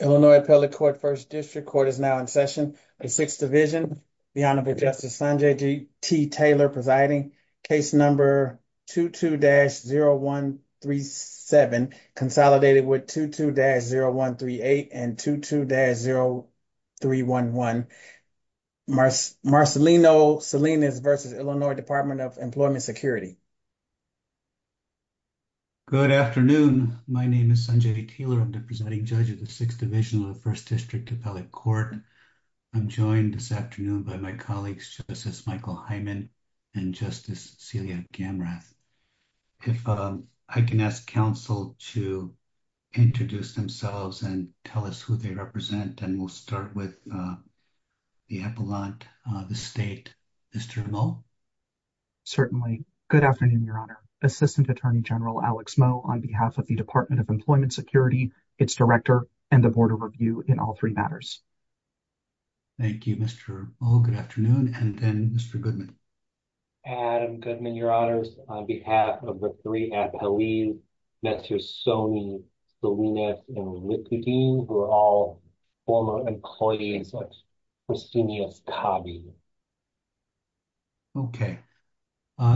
Illinois Appellate Court First District Court is now in session. The 6th Division, the Honorable Justice Sanjay T. Taylor presiding. Case number 22-0137, consolidated with 22-0138 and 22-0311, Marcelino Salinas v. Illinois Department of Employment Security. Good afternoon. My name is Sanjay T. Taylor. I'm the presiding judge of the 6th Division of the First District Appellate Court. I'm joined this afternoon by my colleagues, Justice Michael Hyman and Justice Celia Gamrath. If I can ask counsel to introduce themselves and tell us who they and we'll start with the appellant, the state, Mr. Moe. Certainly. Good afternoon, Your Honor. Assistant Attorney General Alex Moe on behalf of the Department of Employment Security, its director, and the Board of Review in all three matters. Thank you, Mr. Moe. Good afternoon. And then, Mr. Goodman. Adam Goodman, Your Honors. On behalf of the three appellees, Mr. Sonny Salinas and we're all former employees. Okay.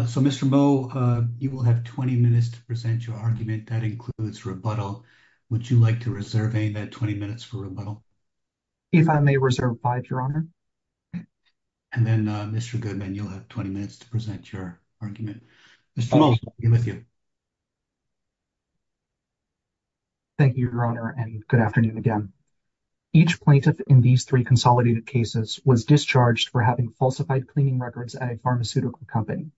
So, Mr. Moe, you will have 20 minutes to present your argument. That includes rebuttal. Would you like to reserve any of that 20 minutes for rebuttal? If I may reserve five, Your Honor. And then, Mr. Goodman, you'll have 20 minutes to present your argument. Mr. Moe, we're with you. Thank you, Your Honor, and good afternoon again. Each plaintiff in these three consolidated cases was discharged for having falsified cleaning records at a pharmaceutical company.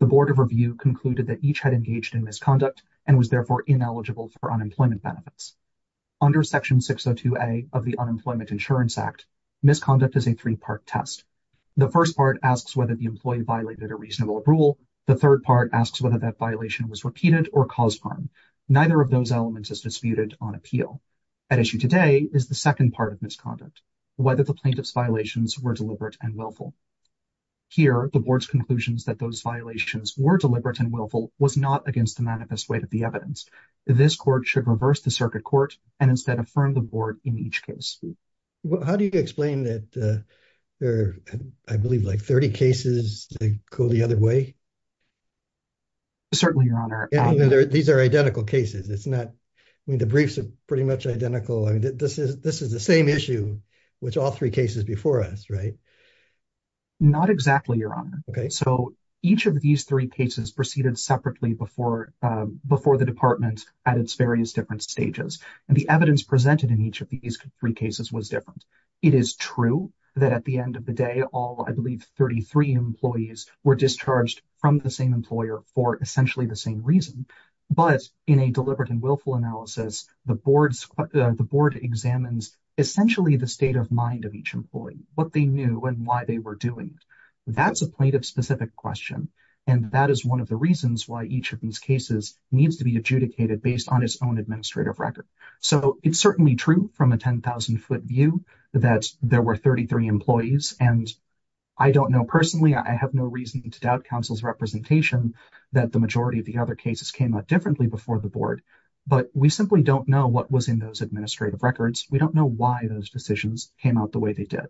The Board of Review concluded that each had engaged in misconduct and was therefore ineligible for unemployment benefits. Under Section 602A of the Unemployment Insurance Act, misconduct is a three part test. The first part asks whether the employee violated a reasonable rule. The third part asks whether that violation was repeated or caused harm. Neither of those elements is disputed on appeal. At issue today is the second part of misconduct, whether the plaintiff's violations were deliberate and willful. Here, the Board's conclusions that those violations were deliberate and willful was not against the manifest weight of the evidence. This court should reverse the circuit court and instead affirm the Board in each case. How do you explain that there are, I believe, like 30 cases that go the other way? Certainly, Your Honor. These are identical cases. It's not, I mean, the briefs are pretty much identical. I mean, this is the same issue with all three cases before us, right? Not exactly, Your Honor. Okay. So each of these three cases proceeded separately before the Department at its various different stages, and the evidence presented in each of these three cases was different. It is true that at the end of the day, all, I believe, 33 employees were discharged from the same employer for essentially the same reason, but in a deliberate and willful analysis, the Board examines essentially the state of mind of each employee, what they knew and why they were doing it. That's a plaintiff-specific question, and that is one of the reasons why each of these cases needs to be adjudicated based on its own administrative record. So it's certainly true from a 10,000-foot view that there were 33 employees, and I don't know personally, I have no reason to doubt counsel's representation that the majority of the other cases came out differently before the Board, but we simply don't know what was in those administrative records. We don't know why those decisions came out the way they did.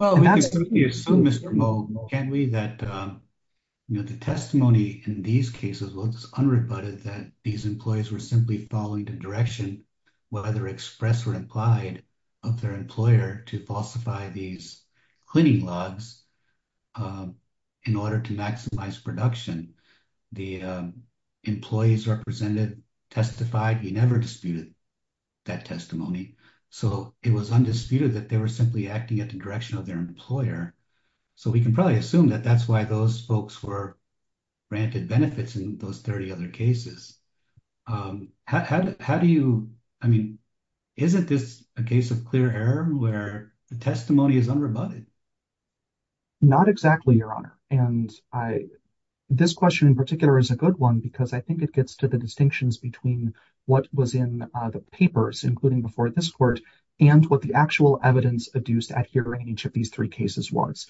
Well, we can certainly assume, Mr. Moe, can't we, that the testimony in these cases was unrebutted, that these employees were simply following the direction whether expressed or implied of their employer to falsify these cleaning logs in order to maximize production? The employees represented testified he never disputed that testimony, so it was undisputed that they were simply acting at the direction of their employer, so we can probably assume that that's why those folks were granted benefits in those 30 other cases. How do you, I mean, isn't this a case of clear error where the testimony is unrebutted? Not exactly, Your Honor, and this question in particular is a good one because I think it gets to the distinctions between what was in the papers, including before this Court, and what the actual evidence adduced at hearing each of these three cases was.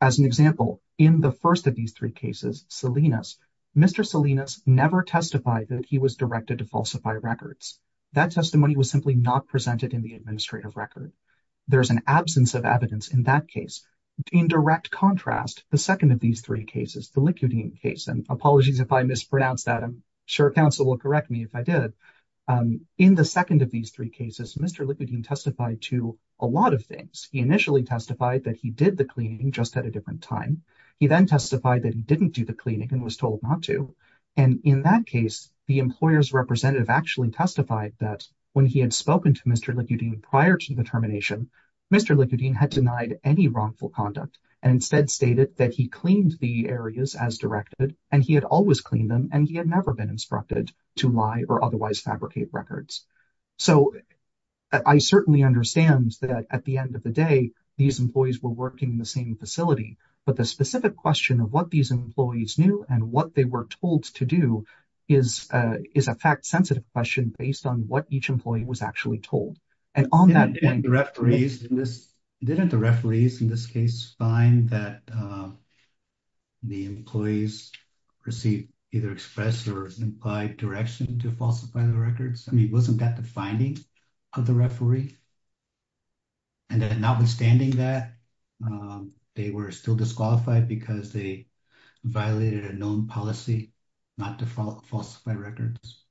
As an example, in the first of these three cases, Mr. Likudin never testified that he was directed to falsify records. That testimony was simply not presented in the administrative record. There's an absence of evidence in that case. In direct contrast, the second of these three cases, the Likudin case, and apologies if I mispronounced that, I'm sure counsel will correct me if I did, in the second of these three cases, Mr. Likudin testified to a lot of things. He initially testified that he did the cleaning just at a different time. He then testified that he didn't do the cleaning and was told not to, and in that case, the employer's representative actually testified that when he had spoken to Mr. Likudin prior to the termination, Mr. Likudin had denied any wrongful conduct and instead stated that he cleaned the areas as directed, and he had always cleaned them, and he had never been instructed to lie or otherwise fabricate records. So I certainly understand that at the end of the day, these employees were working in the same facility, but the specific question of what these employees knew and what they were told to do is a fact-sensitive question based on what each employee was actually told. Didn't the referees in this case find that the employees received either expressed or implied direction to falsify the records? I mean, wasn't that the finding of the referee? And then notwithstanding that, they were still disqualified because they violated a known policy not to falsify records?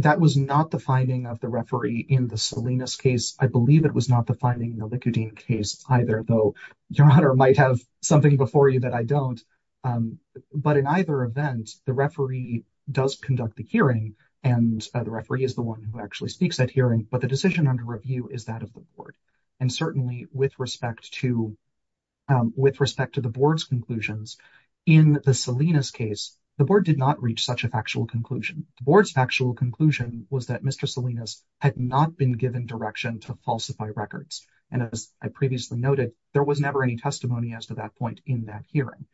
That was not the finding of the referee in the Salinas case. I believe it was not the finding in the Likudin case either, though your honor might have something before you that I don't, but in either event, the referee does conduct the hearing, and the referee is the one who actually speaks at hearing, but the decision under review is that of the board. And certainly, with respect to the board's conclusions, in the Salinas case, the board did not reach such a factual conclusion. The board's factual conclusion was that Mr. Salinas had not been given direction to falsify records, and as I previously noted, there was never any testimony as to that point in that hearing.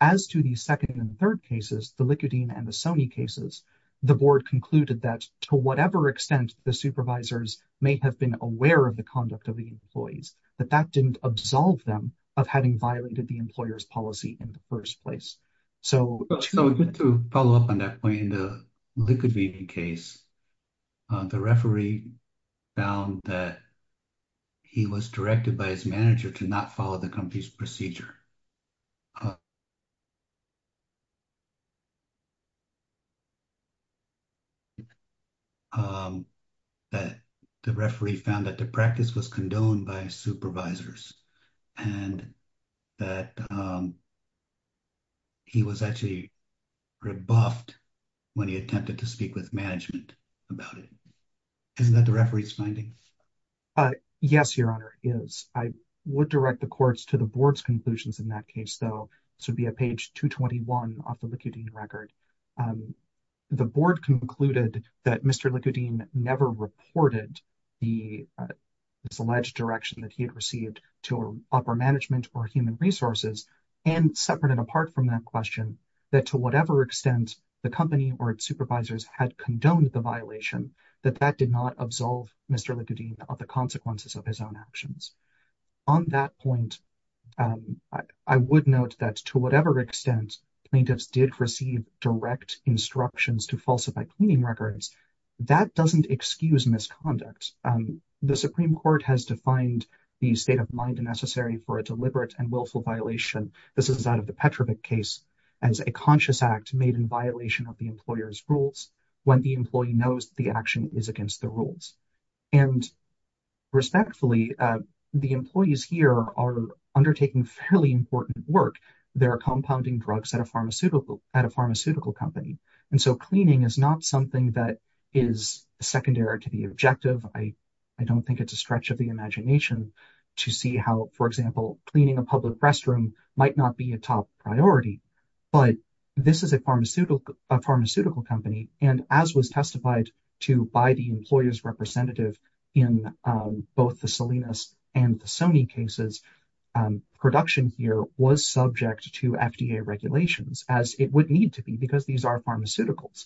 As to the second and third cases, the Likudin and the Sony cases, the board concluded that to whatever extent the supervisors may have been aware of the conduct of the employees, that that didn't absolve them of having violated the employer's policy in the first place. So to follow up on that point, in the Likudin case, the referee found that he was directed by his manager to not follow the company's procedure. And that the referee found that the practice was condoned by supervisors, and that he was actually rebuffed when he attempted to speak with management about it. Isn't that the referee's finding? Yes, Your Honor, it is. I would direct the courts to the board's conclusions in that case, though. This would be at page 221 off the Likudin record. The board concluded that Mr. Likudin never reported the misalleged direction that he had received to upper management or human resources, and separate and apart from that question, that to whatever extent the company or its supervisors had condoned the violation, that that did not absolve Mr. Likudin of the consequences of his own actions. On that point, I would note that to whatever extent plaintiffs did receive direct instructions to falsify cleaning records, that doesn't excuse misconduct. The Supreme Court has defined the state of mind necessary for a deliberate and willful violation, this is out of the Petrovic case, as a conscious act made in violation of the employer's rules when the employee knows the action is against the rules. And respectfully, the employees here are undertaking fairly important work. They're compounding drugs at a pharmaceutical company. And so cleaning is not something that is secondary to the objective. I don't think it's a stretch of the imagination to see how, for example, cleaning a public restroom might not be a top priority. But this is a pharmaceutical company, and as was testified to by the employer's representative in both the Salinas and the Sony cases, production here was subject to FDA regulations, as it would need to be, because these are pharmaceuticals.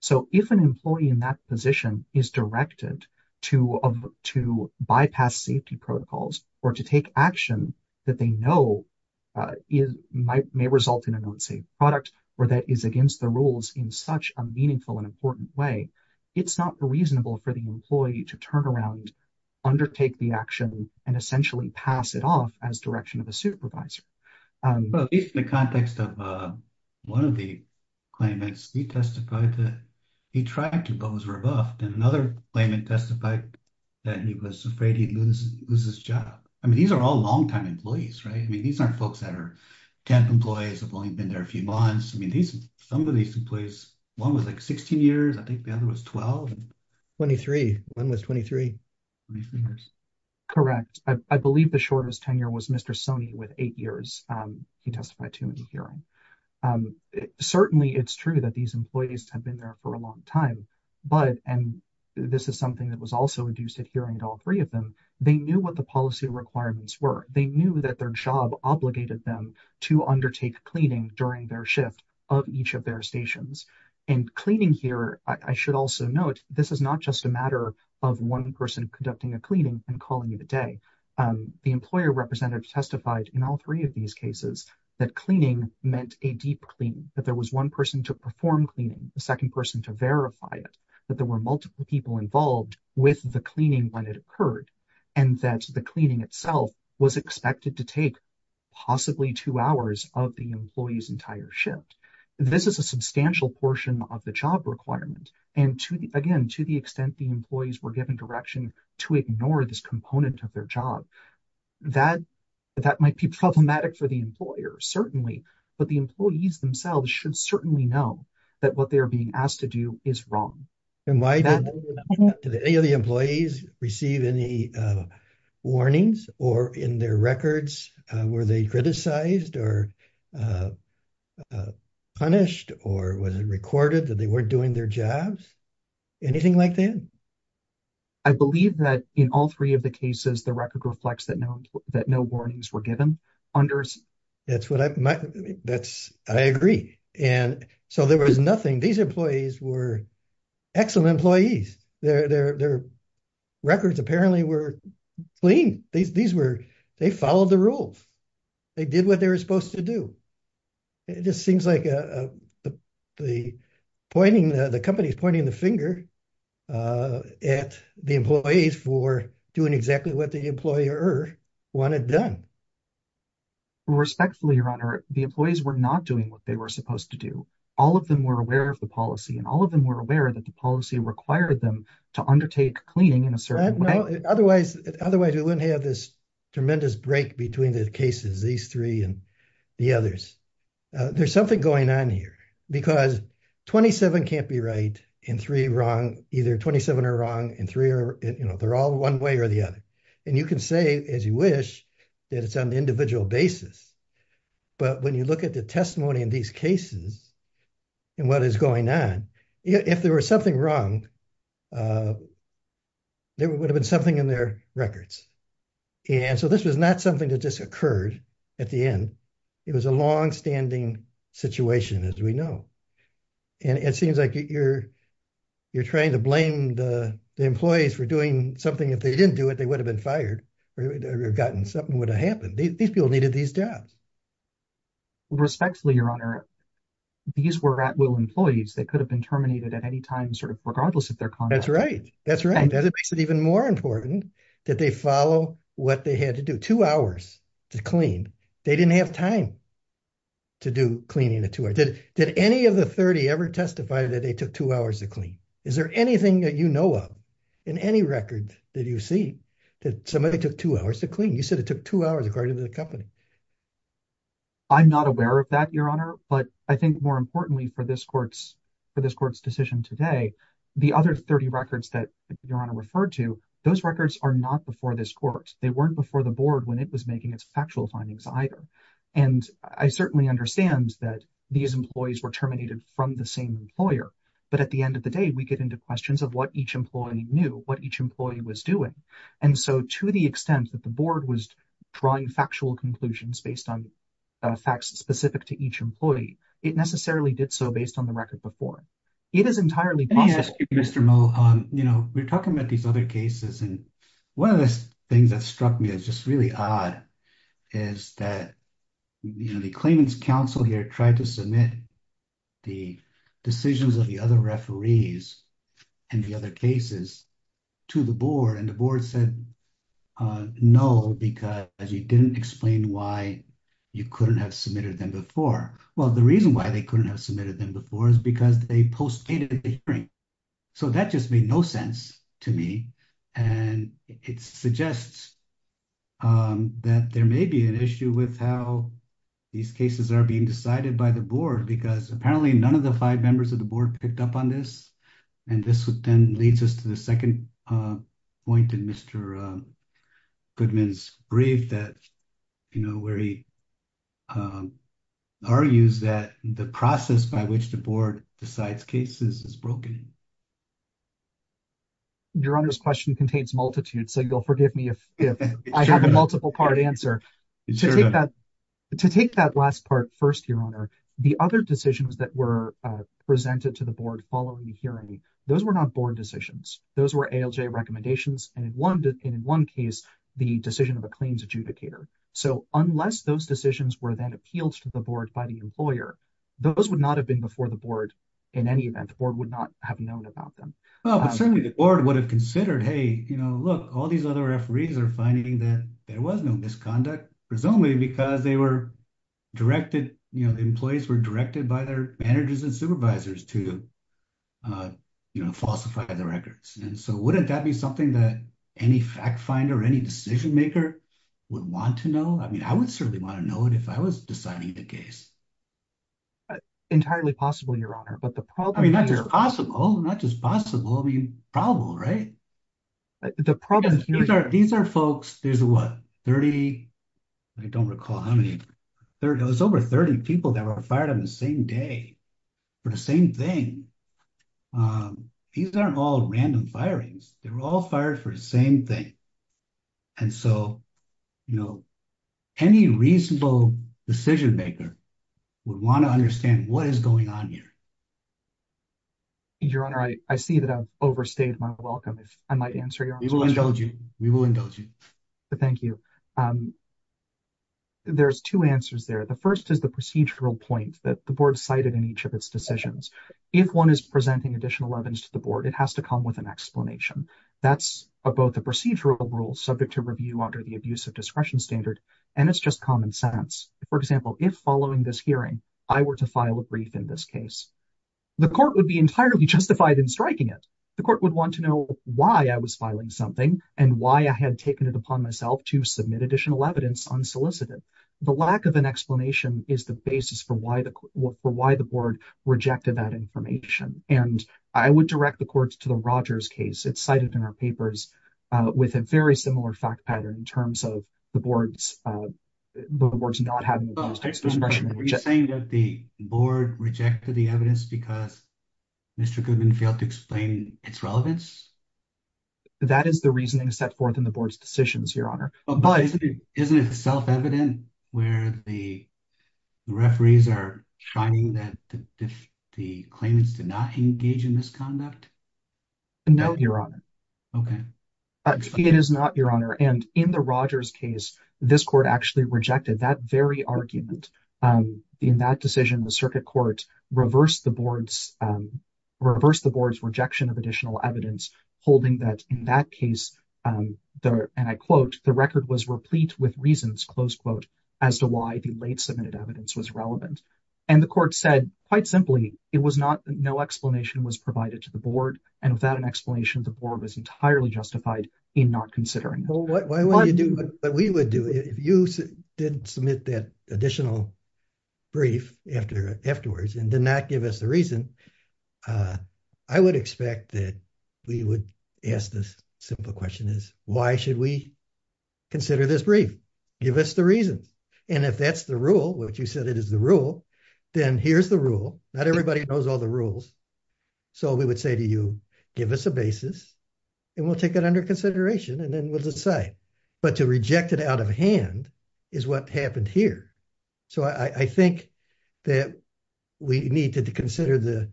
So if an employee in that position is directed to bypass safety protocols, or to take action that they know is might may result in an unsafe product, or that is against the rules in such a meaningful and important way, it's not reasonable for the employee to turn around, undertake the action, and essentially pass it off as direction of a supervisor. But in the context of one of the claimants, he testified that he tried to but was rebuffed and another claimant testified that he was afraid he'd lose his job. I mean, these are all long time employees, right? I mean, these aren't folks that are 10 employees have only been there a few months. I mean, these some of these employees, one was like 16 years, I think the other was 12. 23. One was 23. Correct. I believe the shortest tenure was Mr. Sony with eight years. He testified to in the hearing. Certainly, it's true that these employees have been there for a long time. But and this is also induced at hearing at all three of them, they knew what the policy requirements were, they knew that their job obligated them to undertake cleaning during their shift of each of their stations. And cleaning here, I should also note, this is not just a matter of one person conducting a cleaning and calling it a day. The employer representative testified in all three of these cases, that cleaning meant a deep clean, that there was one person to perform cleaning the person to verify it, that there were multiple people involved with the cleaning when it occurred, and that the cleaning itself was expected to take possibly two hours of the employees entire shift. This is a substantial portion of the job requirement. And to the again, to the extent the employees were given direction to ignore this component of their job, that that might be problematic for the employer, certainly. But the employees themselves should certainly know that what they are being asked to do is wrong. And why did any of the employees receive any warnings or in their records? Were they criticized or punished? Or was it recorded that they weren't doing their jobs? Anything like that? I believe that in all three of the cases, the record reflects that no that no warnings were understood. That's what I agree. And so there was nothing. These employees were excellent employees. Their records apparently were clean. These were, they followed the rules. They did what they were supposed to do. It just seems like the pointing, the company's pointing the finger at the employees for doing exactly what the employer wanted done. Respectfully, your honor, the employees were not doing what they were supposed to do. All of them were aware of the policy and all of them were aware that the policy required them to undertake cleaning in a certain way. Otherwise, otherwise, we wouldn't have this tremendous break between the cases, these three and the others. There's something going on here, because 27 can't be right, and three wrong, either 27 are wrong and three are, you know, are all one way or the other. And you can say, as you wish, that it's on the individual basis. But when you look at the testimony in these cases and what is going on, if there was something wrong, there would have been something in their records. And so this was not something that just occurred at the end. It was a longstanding situation, as we know. And it seems like you're trying to blame the employees for doing something. If they didn't do it, they would have been fired or gotten something would have happened. These people needed these jobs. Respectfully, your honor, these were at-will employees that could have been terminated at any time, sort of regardless of their conduct. That's right. That's right. That makes it even more important that they follow what they had to do. Two hours to clean. They didn't have time to do cleaning in two hours. Did any of the 30 ever testify that they took two hours to clean? Is there anything that you know of in any record that you've seen that somebody took two hours to clean? You said it took two hours according to the company. I'm not aware of that, your honor. But I think more importantly for this court's decision today, the other 30 records that your honor referred to, those records are not before this court. They weren't before the board when it was making its factual findings either. And I certainly understand that these employees were terminated from the same employer. But at the end of the day, we get into questions of what each employee knew, what each employee was doing. And so to the extent that the board was drawing factual conclusions based on facts specific to each employee, it necessarily did so based on the record before. It is entirely possible. Mr. Moe, we're talking about these other cases and one of the things that struck me that's just odd is that the claimants council here tried to submit the decisions of the other referees and the other cases to the board. And the board said, no, because you didn't explain why you couldn't have submitted them before. Well, the reason why they couldn't have submitted them before is because they postponed the hearing. So that just made no sense to me. And it suggests that there may be an issue with how these cases are being decided by the board because apparently none of the five members of the board picked up on this. And this then leads us to the second point in Mr. Goodman's brief that where he argues that the process by which the board decides cases is broken. Your honor's question contains multitudes. So you'll forgive me if I have multiple part answer. To take that last part first, your honor, the other decisions that were presented to the board following the hearing, those were not board decisions. Those were ALJ recommendations. And in one case, the decision of a claims adjudicator. So unless those decisions were then appealed to the board by the employer, those would not have been before the board in any event or would not have known about them. But certainly the board would have considered, hey, look, all these other referees are finding that there was no misconduct, presumably because the employees were directed by their managers and supervisors to falsify the records. And so wouldn't that be something that any fact finder or any decision maker would want to know? I mean, I would certainly want to know it if I was deciding the case. Entirely possible, your honor. I mean, not just possible. I mean, probable, right? These are folks, there's what, 30? I don't recall how many. There was over 30 people that were fired on the same day for the same thing. These aren't all random firings. They were all fired for the same thing. And so, you know, any reasonable decision maker would want to understand what is going on here. Your honor, I see that I've overstayed my welcome. If I might answer your question. We will indulge you. We will indulge you. Thank you. There's two answers there. The first is the procedural point that the board cited in each of its decisions. If one is presenting additional evidence to the board, it has to come with an explanation. That's about the procedural rules subject to review under the abuse of discretion standard. And it's just common sense. For example, if following this hearing, I were to file a brief in this case, the court would be entirely justified in striking it. The court would want to know why I was filing something and why I had taken it upon myself to submit additional evidence unsolicited. The lack of an explanation is the basis for why the board rejected that information. And I would direct the courts to the Rogers case. It's cited in our papers with a very similar fact pattern in terms of the board's, the board's not having the discretion. Are you saying that the board rejected the evidence because Mr. Goodman failed to explain its relevance? That is the reasoning set forth in the board's decisions, your honor. Isn't it self-evident where the referees are shining that the claimants did not engage in misconduct? No, your honor. Okay. It is not, your honor. And in the Rogers case, this court actually rejected that very argument. In that decision, the circuit court reversed the board's, reversed the board's rejection of additional evidence, holding that in that case, and I quote, the record was replete with reasons, close quote, as to why the late submitted evidence was relevant. And the court said quite simply, it was not, no explanation was provided to the board. And without an explanation, the board was entirely justified in not considering it. Well, why wouldn't you do what we would do? If you didn't submit that additional brief after afterwards, and did not give us the reason, I would expect that we would ask this simple question is why should we consider this brief? Give us the reasons. And if that's the rule, which you said it is the rule, then here's the rule. Not everybody knows all the rules. So we would say to you, give us a basis, and we'll take it under consideration. And then we'll decide, but to reject it out of hand is what happened here. So I think that we need to consider the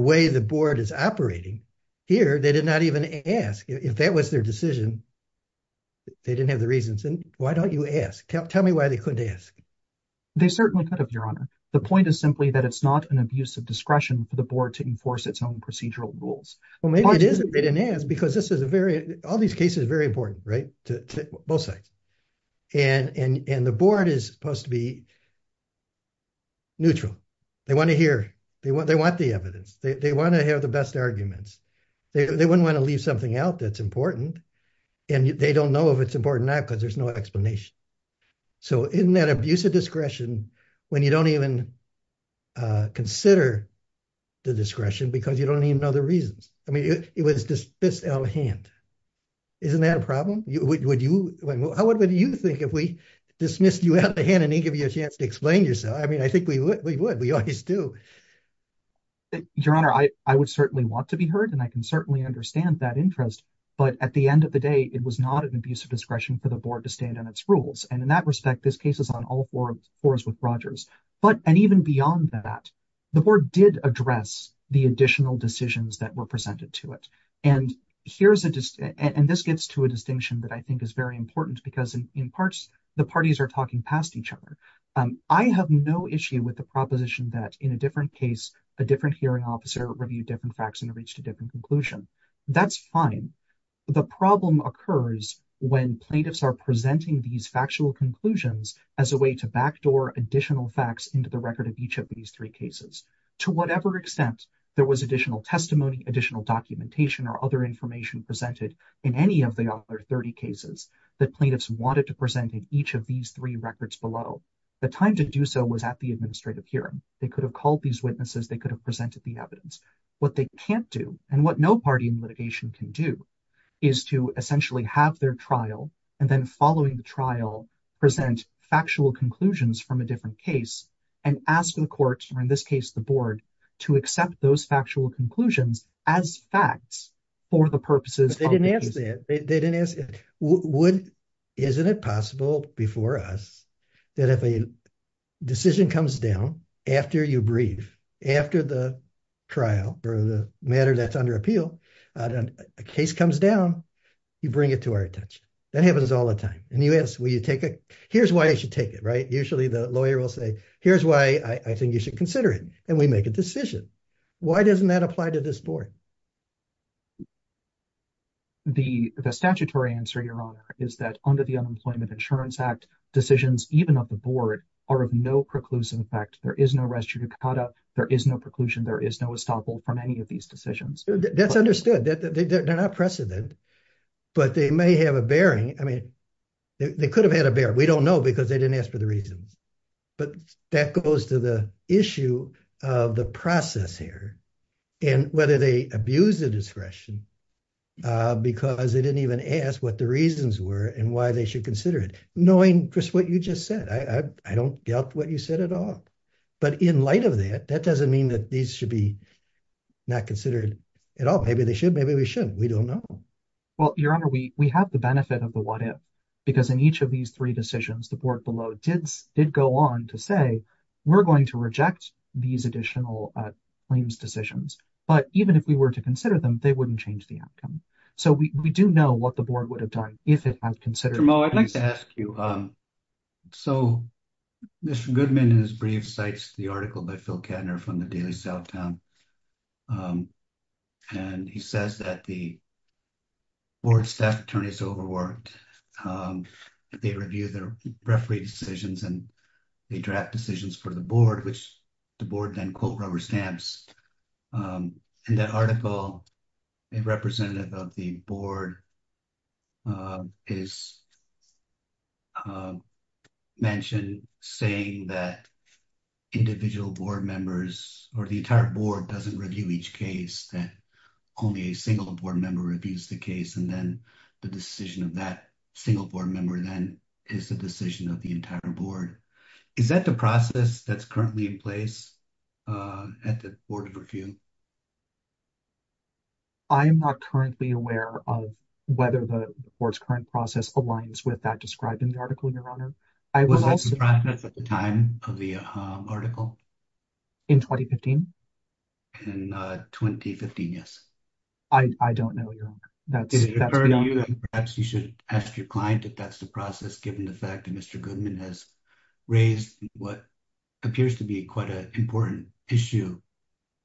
way the board is operating here. They did not even ask if that was their decision. They didn't have the reasons. And why don't you tell me why they couldn't ask? They certainly could have, Your Honor. The point is simply that it's not an abuse of discretion for the board to enforce its own procedural rules. Well, maybe it is that they didn't ask because this is a very, all these cases are very important, right? To both sides. And the board is supposed to be neutral. They want to hear, they want the evidence. They want to have the best arguments. They wouldn't want to leave something out that's important. And they don't know if it's important or not because there's no explanation. So in that abuse of discretion, when you don't even consider the discretion because you don't even know the reasons. I mean, it was dismissed out of hand. Isn't that a problem? How would you think if we dismissed you out of hand and didn't give you a chance to explain yourself? I mean, I think we would. We always do. Your Honor, I would certainly want to be heard and I can at the end of the day, it was not an abuse of discretion for the board to stand on its rules. And in that respect, this case is on all fours with Rogers. But and even beyond that, the board did address the additional decisions that were presented to it. And this gets to a distinction that I think is very important because in parts, the parties are talking past each other. I have no issue with the proposition that in a different case, a different hearing officer reviewed different facts and reached a different conclusion. That's fine. The problem occurs when plaintiffs are presenting these factual conclusions as a way to backdoor additional facts into the record of each of these three cases. To whatever extent there was additional testimony, additional documentation or other information presented in any of the other 30 cases that plaintiffs wanted to present in each of these three records below. The time to do so was at the administrative hearing. They could have called these witnesses. They could have presented the evidence. What they can't do and what no party in litigation can do is to essentially have their trial and then following the trial present factual conclusions from a different case and ask the court or in this case, the board to accept those factual conclusions as facts for the purposes. They didn't ask that. They didn't ask, isn't it possible before us that if a decision comes down after you breathe, after the trial or the matter that's under appeal, a case comes down, you bring it to our attention. That happens all the time. And you ask, will you take it? Here's why I should take it, right? Usually the lawyer will say, here's why I think you should consider it. And we make a decision. Why doesn't that apply to this board? The statutory answer, Your Honor, is that under the Unemployment Insurance Act, decisions, even of the board, are of no preclusive effect. There is no res judicata. There is no preclusion. There is no estoppel from any of these decisions. That's understood. They're not precedent, but they may have a bearing. I mean, they could have had a bear. We don't know because they didn't ask for the reasons. But that goes to the issue of the process here and whether they abuse the discretion because they didn't even ask what the reasons were and why they should consider it, knowing just what you just said. I don't doubt what you said at all. But in light of that, that doesn't mean that these should be not considered at all. Maybe they should. Maybe we shouldn't. We don't know. Well, Your Honor, we have the benefit of the what if, because in each of these three decisions, the board below did go on to say, we're going to reject these additional claims decisions. But even if we were to consider them, they wouldn't change the outcome. So we do know what the board would have done if it had considered it. Tramone, I'd like to ask you. So Mr. Goodman, in his brief, cites the article by Phil Kattner from the Daily Southtown. And he says that the board staff attorneys overworked. They reviewed their referee decisions and the draft decisions for the board, which the board then, quote, rubber stamps. In that article, a representative of the board is mentioned saying that individual board members or the entire board doesn't review each case, that only a single board member reviews the case. And then the decision of that single board member then is the decision of the entire board. Is that the process that's currently in place at the Board of Review? I am not currently aware of whether the board's current process aligns with that described in the article, Your Honor. Was that the process at the time of the article? In 2015? In 2015, yes. I don't know, Your Honor. That's beyond me. Perhaps you should ask your client if that's the process, given the fact that Mr. Goodman has raised what appears to be quite an important issue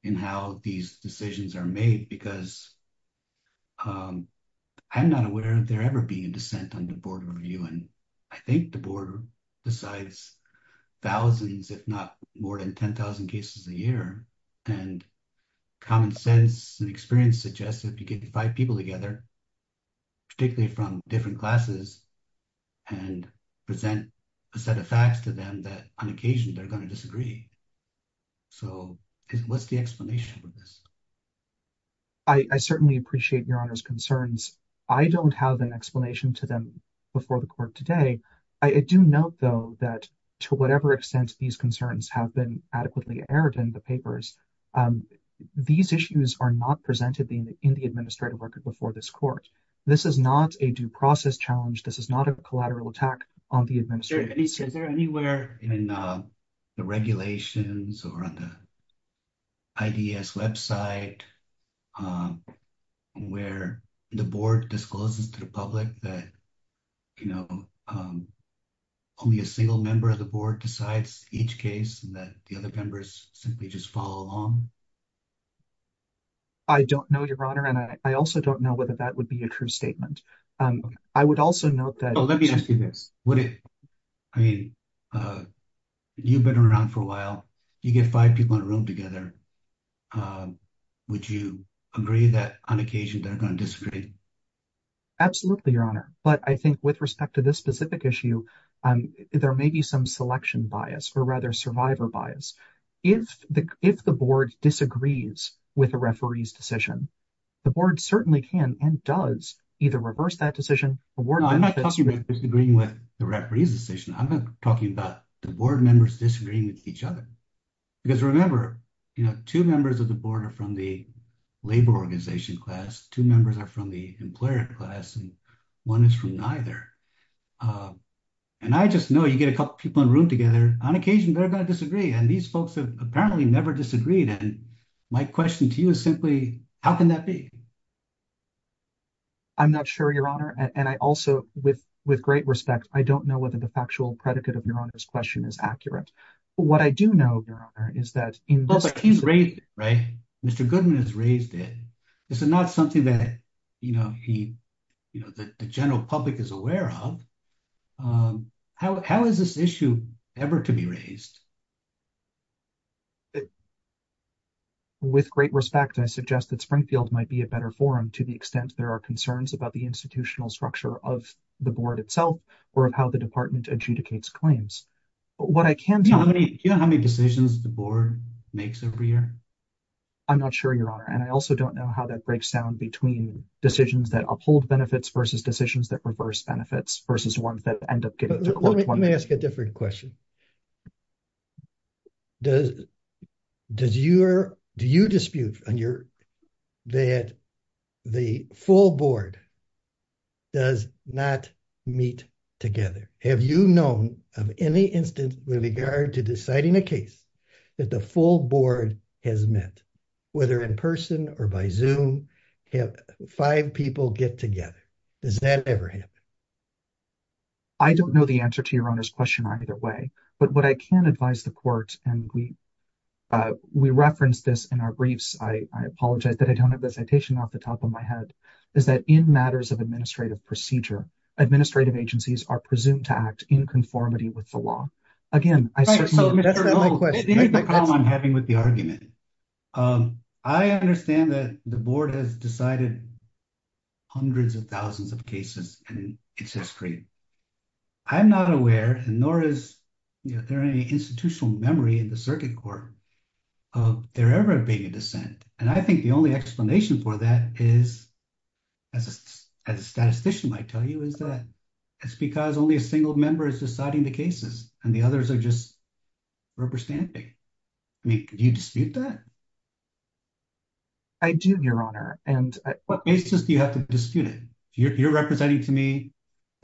in how these decisions are made. Because I'm not aware of there ever being a dissent on the Board of Review. And I think the board decides thousands, if not more than 10,000 cases a year. And common sense and experience suggests that you can divide people together, particularly from different classes, and present a set of facts to them that on occasion they're going to disagree. So what's the explanation for this? I certainly appreciate Your Honor's concerns. I don't have an explanation to them before the court today. I do note, though, that to whatever extent these concerns have been adequately aired in the papers, these issues are not presented in the administrative record before this court. This is not a due process challenge. This is not a collateral attack on the administrator. Is there anywhere in the regulations or on the IDES website where the board discloses to the public that, you know, only a single member of the board decides each case and that the other members simply just follow along? I don't know, Your Honor, and I also don't know whether that would be a true statement. I would also note that... Oh, let me ask you this. Would it... I mean, you've been around for a while. You get five people in a room together. Would you agree that on occasion they're going to disagree? Absolutely, Your Honor, but I think with respect to this specific issue, there may be some selection bias, or rather survivor bias. If the board disagrees with a referee's decision, the board certainly can and does either reverse that decision. No, I'm not talking about disagreeing with the referee's decision. I'm talking about the board members disagreeing with each other. Because remember, you know, two members of the board are from the labor organization class, two members are from the employer class, and one is from neither. And I just know you get a couple people in a room together, on occasion they're going to disagree, and these folks have apparently never disagreed, and my question to you is simply, how can that be? I'm not sure, Your Honor, and I also, with great respect, I don't know whether the factual predicate of Your Honor's question is accurate. What I do know, Your Honor, is that in this case, he's raised it, right? Mr. Goodman has raised it. This is not something that, you know, he, you know, the general public is aware of. How is this issue ever to be raised? With great respect, I suggest that Springfield might be a better forum, to the extent there are concerns about the institutional structure of the board itself, or of how the department adjudicates claims. But what I can tell you... Do you know how many decisions the board makes every year? I'm not sure, Your Honor, and I also don't know how that breaks down between decisions that uphold benefits versus decisions that reverse benefits, versus ones that end up getting to court. Let me ask a different question. Do you dispute that the full board does not meet together? Have you known of any instance with regard to deciding a case that the full board has met, whether in person or by Zoom, have five people get together? Does that ever happen? I don't know the answer to Your Honor's question either way, but what I can advise the court, and we referenced this in our briefs, I apologize that I don't have a citation off the top of my head, is that in matters of administrative procedure, administrative agencies are presumed to act in conformity with the law. Again, I certainly... That's not my question. That's the problem I'm having with the argument. I understand that the board has decided hundreds of thousands of cases, and it's discrete. I'm not aware, nor is there any institutional memory in the circuit court of there ever being a dissent. And I think the only explanation for that is, as a statistician might tell you, is that it's because only a single member is deciding the cases, and the others are just representing. I mean, do you dispute that? I do, Your Honor, and... What basis do you have to dispute it? You're representing to me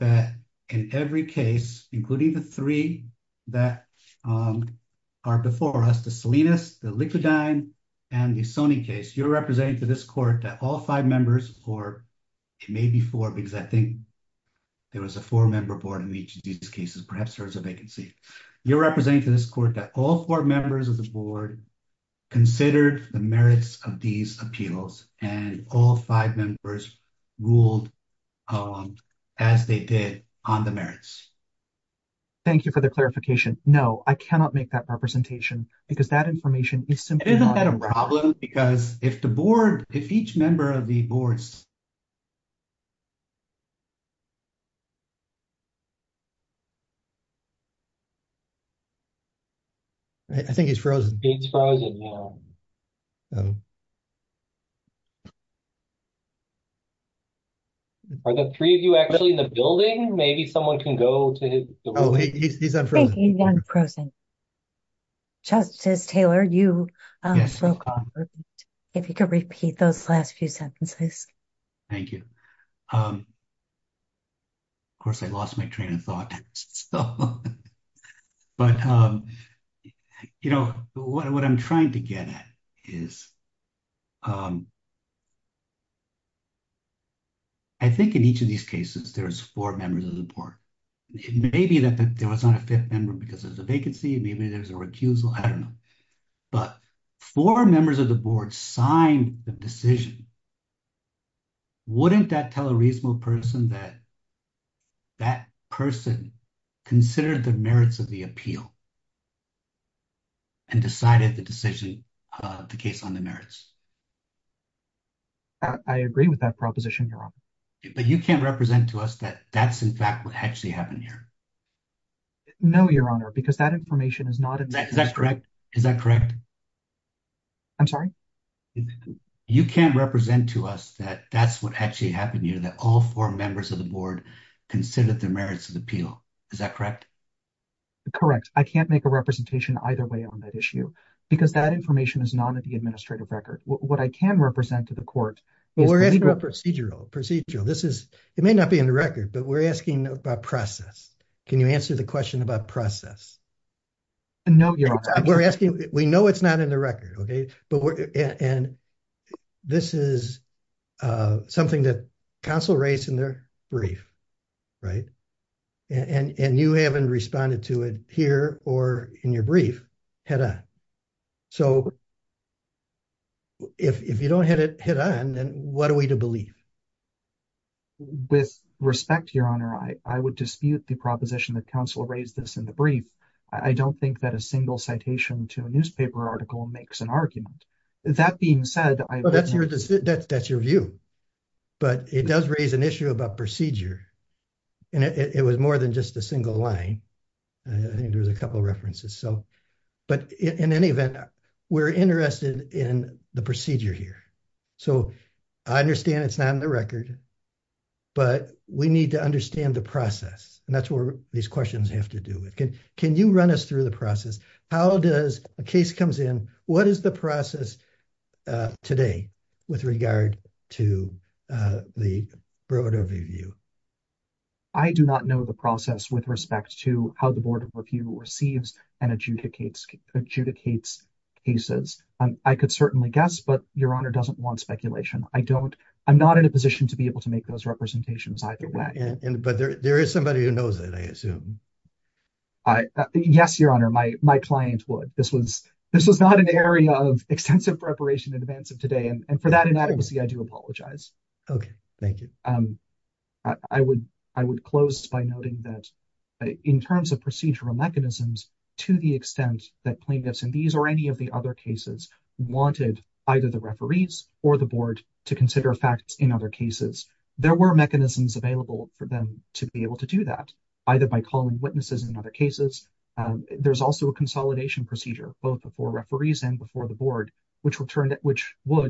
that in every case, including the three that are before us, the Salinas, the Lickledyne, and the Sony case, you're representing to this court that all five members, or it may be four, because I think there was a four-member board in each of these cases, perhaps there was a vacancy. You're representing to this court that all four members of the board considered the merits of these appeals, and all five members ruled as they did on the merits. Thank you for the clarification. No, I cannot make that representation, because that information is simply not... Isn't that a problem? Because if the board, if each member of the boards... I think it's frozen. It's frozen now. Are the three of you actually in the building? Maybe someone can go to his... Oh, he's unfrozen. I think he's unfrozen. Justice Taylor, you spoke on it. Yes, I did. If you could repeat those last few sentences. Thank you. Of course, I lost my train of thought. But what I'm trying to get at is that I'm trying to get to the bottom of this. And what I'm trying to get at is I think in each of these cases, there's four members of the board. It may be that there was not a fifth member because there's a vacancy, maybe there's a recusal, I don't know. But four members of the board signed the decision. Wouldn't that tell a reasonable person that that person considered the merits of the appeal and decided the decision of the case on the merits? I agree with that proposition, Your Honor. But you can't represent to us that that's in fact what actually happened here. No, Your Honor, because that information is not... Is that correct? Is that correct? I'm sorry? You can't represent to us that that's what actually happened here, that all four members of the board considered the merits of the appeal. Is that correct? Correct. I can't make a representation either way on that issue because that information is not in the administrative record. What I can represent to the court is... We're asking about procedural. Procedural. This is... It may not be in the record, but we're asking about process. Can you answer the question about process? No, Your Honor. We're asking... We know it's not in the record, okay? But we're... And this is something that counsel raised in their brief, right? And you haven't responded to it here or in your brief, head-on. So, if you don't hit it head-on, then what are we to believe? With respect, Your Honor, I would dispute the proposition that counsel raised this in the brief. I don't think that a single citation to a newspaper article makes an argument. That being said, I... That's your... That's your view. But it does raise an issue about procedure. And it was more than just a single line. I think there was a couple of references. So... But in any event, we're interested in the procedure here. So, I understand it's not in the record, but we need to understand the process. And that's what these questions have to do with. Can you run us through the process? How does a case comes in? What is the process today with regard to the broad overview? I do not know the process with respect to how the board of review receives and adjudicates cases. I could certainly guess, but Your Honor doesn't want speculation. I don't... I'm not in a position to be able to make those representations either way. But there is somebody who knows that, I assume. Yes, Your Honor, my client would. This was not an area of extensive preparation in advance of today. And for that inadequacy, I do apologize. Okay. Thank you. I would close by noting that in terms of procedural mechanisms, to the extent that plaintiffs in these or any of the other cases wanted either the referees or the board to consider facts in other cases, there were mechanisms available for them to be able to do that, either by calling witnesses in other cases. There's also a consolidation procedure, both before referees and before the board, which would,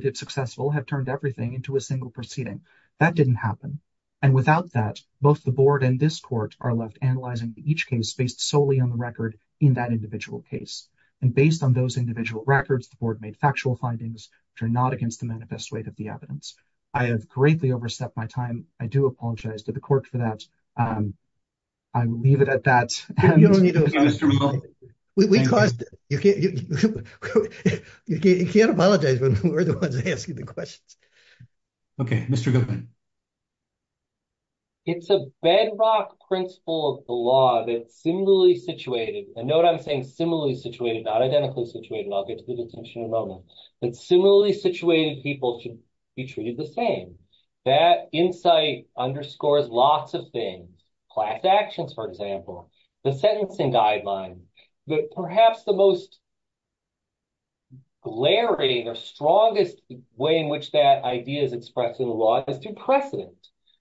if successful, have turned everything into a single proceeding. That didn't happen. And without that, both the board and this court are left analyzing each case based solely on the record in that individual case. And based on those individual records, the board made factual findings which are not against the manifest weight of the evidence. I have greatly overstepped my time. I do apologize to the court for that. I will leave it at that. You don't need to apologize to me, though. We caused... You can't apologize when we're the ones asking the questions. Okay, Mr. Goodman. It's a bedrock principle of the law that's similarly situated. And note I'm saying similarly situated, not identically situated. I'll get to the distinction in a moment. That similarly situated people should be treated the same. That insight underscores lots of things. Class actions, for example. The sentencing guideline. Perhaps the most glaring or strongest way in which that idea is expressed in the law is through precedent.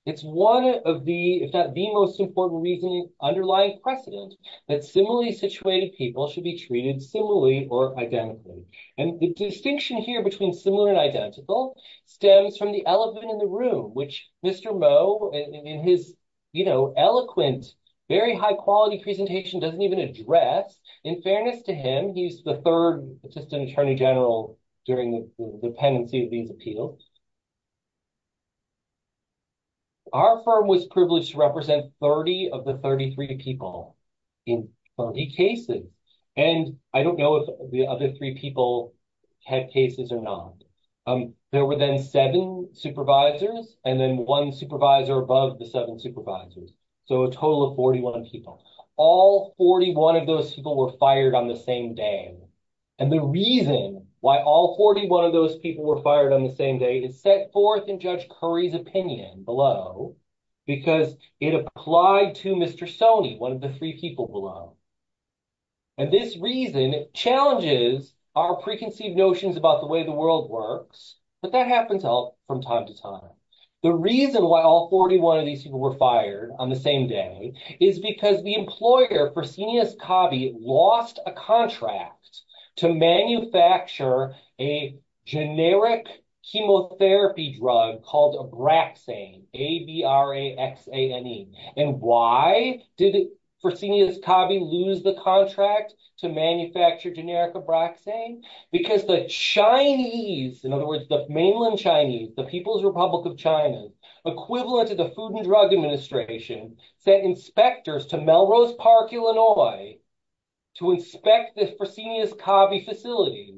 It's one of the, if not the most important reason, underlying precedent that similarly situated people should be treated similarly or identically. And the distinction here between similar and identical stems from the elephant in the room, which Mr. Moe, in his eloquent, very high quality presentation, doesn't even address. In fairness to him, he's the third assistant attorney general during the pendency of these appeals. Our firm was privileged to represent 30 of the 33 people in 30 cases. And I don't know if the other three people had cases or not. There were then seven supervisors and then one supervisor above the seven supervisors. So a total of 41 people. All 41 of those people were fired on the same day. And the reason why all 41 of those people were fired on the same day is set forth in Judge Curry's opinion below, because it applied to Mr. Sone, one of the three people below. And this reason challenges our preconceived notions about the way the world works. But that happens from time to time. The reason why all 41 of these people were fired on the same day is because the employer, Fresenius Cabe, lost a contract to manufacture a generic chemotherapy drug called Abraxane. A-B-R-A-X-A-N-E. And why did Fresenius Cabe lose the contract to manufacture generic Abraxane? Because the Chinese, in other words, the mainland Chinese, the People's Republic of China, equivalent to the Food and Drug Administration, sent inspectors to Melrose Park, Illinois, to inspect the Fresenius Cabe facility.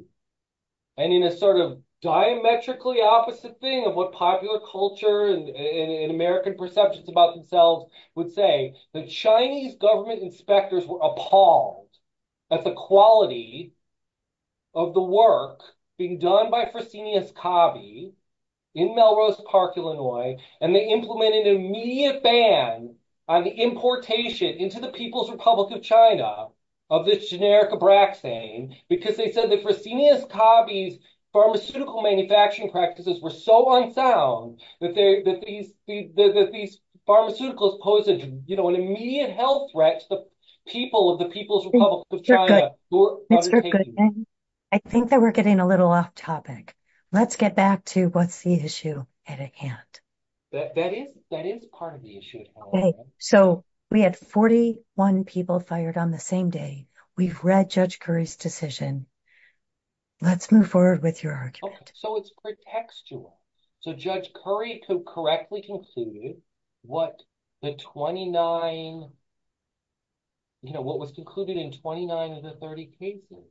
And in a sort of diametrically opposite thing of what popular culture and American perceptions about themselves would say, the Chinese government inspectors were appalled at the quality of the work being done by Fresenius Cabe in Melrose Park, Illinois, and they implemented an immediate ban on the importation into the People's Republic of China of this generic Abraxane because they said that Fresenius Cabe's pharmaceutical manufacturing practices were so unsound that these pharmaceuticals posed an immediate health threat to the people of the People's Republic of China It's a good thing. I think that we're getting a little off topic. Let's get back to what's the issue at hand. That is part of the issue. So we had 41 people fired on the same day. We've read Judge Currie's decision. Let's move forward with your argument. So it's pretextual. So Judge Currie correctly concluded what the 29, you know, what was concluded in 29 of the 30 cases,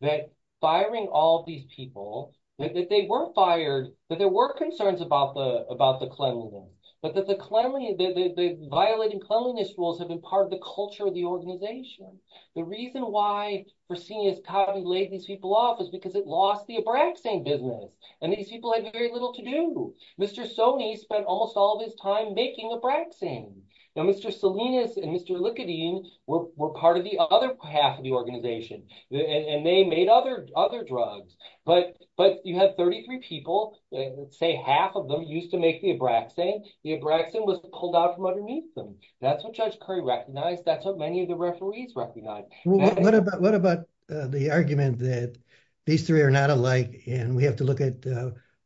that firing all of these people, that they were fired, that there were concerns about the cleanliness, but that the violating cleanliness rules have been part of the culture of the organization. The reason why Fresenius Cabe laid these people off is because it lost the Abraxane business. And these people had very little to do. Mr. Soni spent almost all of his time making Abraxane. Now, Mr. Salinas and Mr. Likudin were part of the other half of the organization, and they made other drugs. But you have 33 people, say half of them used to make the Abraxane. The Abraxane was pulled out from underneath them. That's what Judge Currie recognized. That's what many of the referees recognized. What about the argument that these three are not alike and we have to look at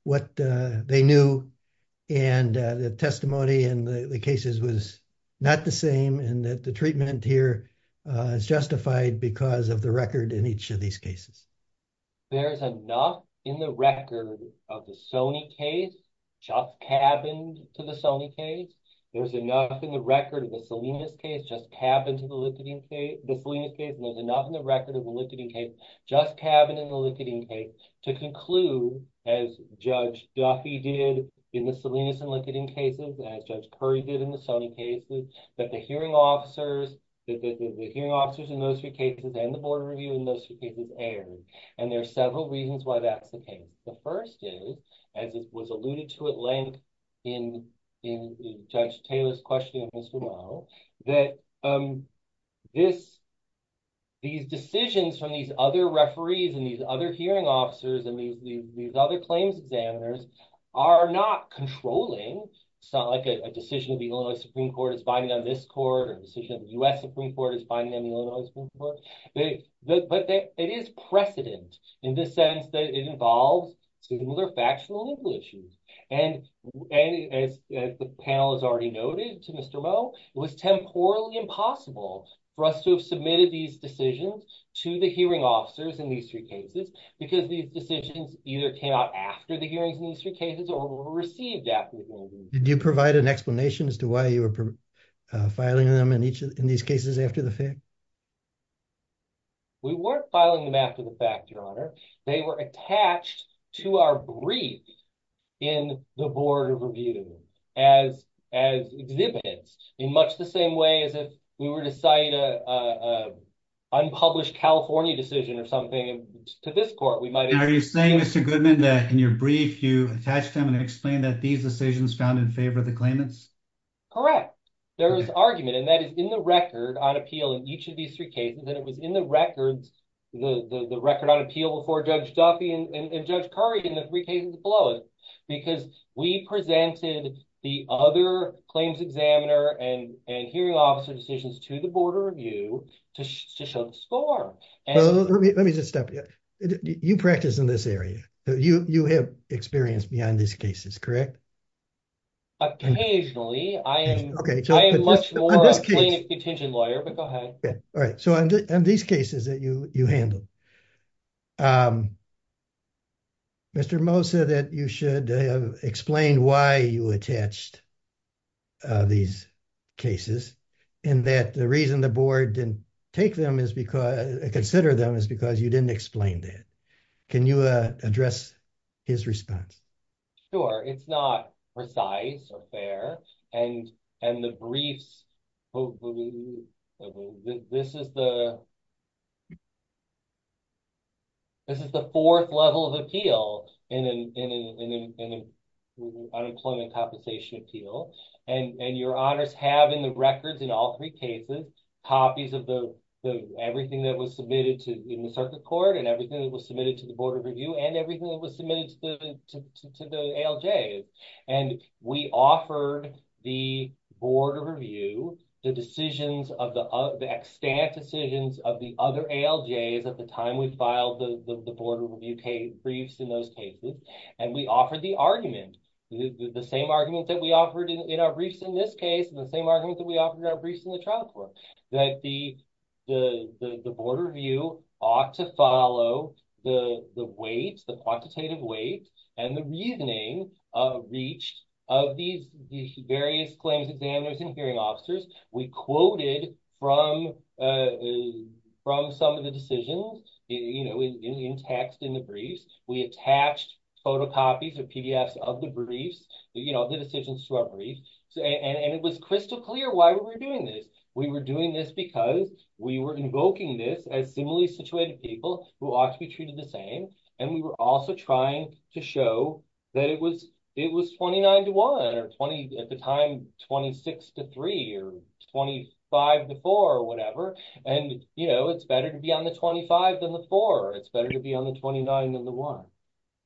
what they knew and the testimony and the cases was not the same and that the treatment here is justified because of the record in each of these cases? There's enough in the record of the Soni case, just cabined to the Soni case. There's enough in the record of the Salinas case, just cabined to the Likudin case, and there's enough in the record of the Likudin case, just cabined in the Likudin case to conclude, as Judge Duffy did in the Salinas and Likudin cases, as Judge Currie did in the Soni cases, that the hearing officers in those three cases and the board review in those three cases aired. And there are several reasons why that's the case. The first is, as it was alluded to at length in Judge Taylor's question, Mr. Moe, that these decisions from these other referees and these other hearing officers and these other claims examiners are not controlling. It's not like a decision of the Illinois Supreme Court is binding on this court or a decision of the U.S. Supreme Court is binding on the Illinois Supreme Court. But it is precedent in the sense that it involves similar factional legal issues. And as the panel has already noted to Mr. Moe, it was temporally impossible for us to have submitted these decisions to the hearing officers in these three cases because these decisions either came out after the hearings in these three cases or were received after the hearings. Did you provide an explanation as to why you were filing them in these cases after the fact? We weren't filing them after the fact, Your Honor. They were attached to our brief in the board review as exhibits, in much the same way as if we were to cite an unpublished California decision or something to this court, we might- Are you saying, Mr. Goodman, that in your brief, you attached them and explained that these decisions found in favor of the claimants? Correct. There was argument and that is in the record on appeal in each of these three cases. And it was in the records, the record on appeal before Judge Duffy and Judge Curry in the three cases below it because we presented the other claims examiner and hearing officer decisions to the board of review to show the score. Let me just stop you. You practice in this area. You have experience beyond these cases, correct? Occasionally, I am much more a plaintiff contention lawyer, but go ahead. All right. So on these cases that you handled, Mr. Moe said that you should explain why you attached these cases and that the reason the board didn't take them is because, consider them is because you didn't explain that. Can you address his response? Sure. It's not precise or fair. And the briefs, this is the fourth level of appeal in an unemployment compensation appeal. And your honors have in the records in all three cases, copies of everything that was submitted to the circuit court and everything that was submitted to the board of review and everything that was submitted to the ALJs. And we offered the board of review the decisions of the extant decisions of the other ALJs at the time we filed the board of review briefs in those cases. And we offered the argument, the same argument that we offered in our briefs in this case and the same argument that we offered in our briefs in the trial court that the board of review ought to follow the weights, the quantitative weight and the reasoning of each of these various claims, examiners and hearing officers. We quoted from some of the decisions in text in the briefs. We attached photocopies or PDFs of the briefs, the decisions to our briefs. And it was crystal clear why we were doing this. We were doing this because we were invoking this as similarly situated people who ought to be treated the same. And we were also trying to show that it was 29 to one or at the time 26 to three or 25 to four or whatever. And it's better to be on the 25 than the four. It's better to be on the 29 than the one.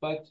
But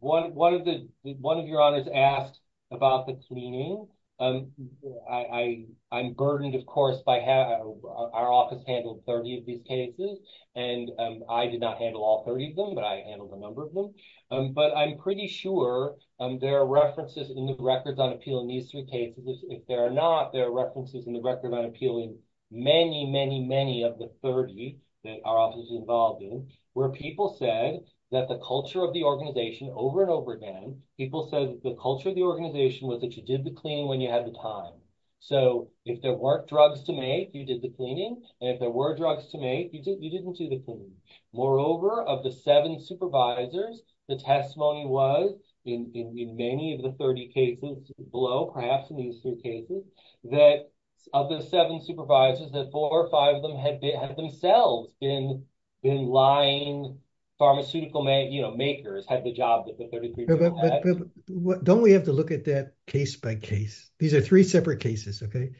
one of your honors asked about the tweening. I'm burdened, of course, by how our office handled 30 of these cases. And I did not handle all 30 of them, but I handled a number of them. But I'm pretty sure there are references in the records on appeal in these three cases. If there are not, there are references in the record on appeal many, many, many of the 30 that our office is involved in, where people said that the culture of the organization over and over again, people said the culture of the organization was that you did the cleaning when you had the time. So if there weren't drugs to make, you did the cleaning. And if there were drugs to make, you didn't do the cleaning. Moreover, of the seven supervisors, the testimony was in many of the 30 cases below, perhaps in these three cases, that of the seven supervisors, that four or five of them had themselves been lying. Pharmaceutical makers had the job that the 33 people had. But don't we have to look at that case by case? These are three separate cases, okay?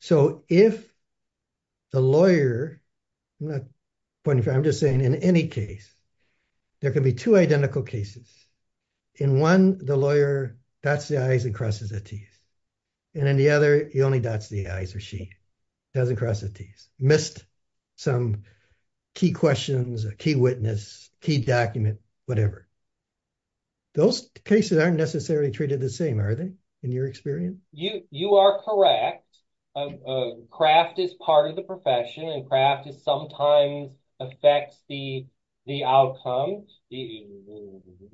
So if the lawyer, I'm not pointing, I'm just saying in any case, there can be two identical cases. In one, the lawyer bats the eyes and crosses the teeth. And in the other, he only bats the eyes or she. He doesn't cross the teeth. Missed some key questions, a key witness, key document, whatever. Those cases aren't necessarily treated the same, are they? In your experience? You are correct. Craft is part of the profession and craft is sometimes affects the outcome, you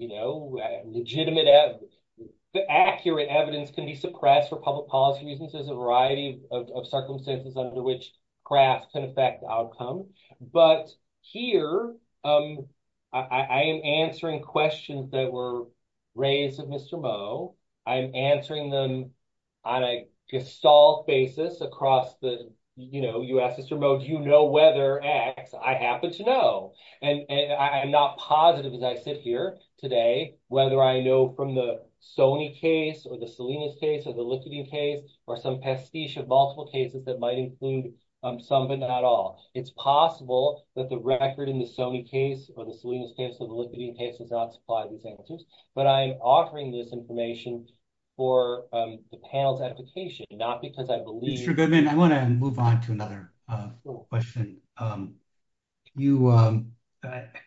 know, legitimate evidence. The accurate evidence can be suppressed for public policy reasons. There's a variety of circumstances under which craft can affect the outcome. But here, I am answering questions that were raised of Mr. Mo. I'm answering them on a gestalt basis across the, you know, you asked Mr. Mo, do you know whether X, I happen to know. And I'm not positive as I sit here today, whether I know from the Sony case or the Salinas case or the liquid case or some pastiche of multiple cases that might include some, but not all. It's possible that the record in the Sony case or the Salinas case of the liquid case does not supply these answers. But I'm offering this information for the panel's application, not because I believe. Mr. Goodman, I want to move on to another question. You,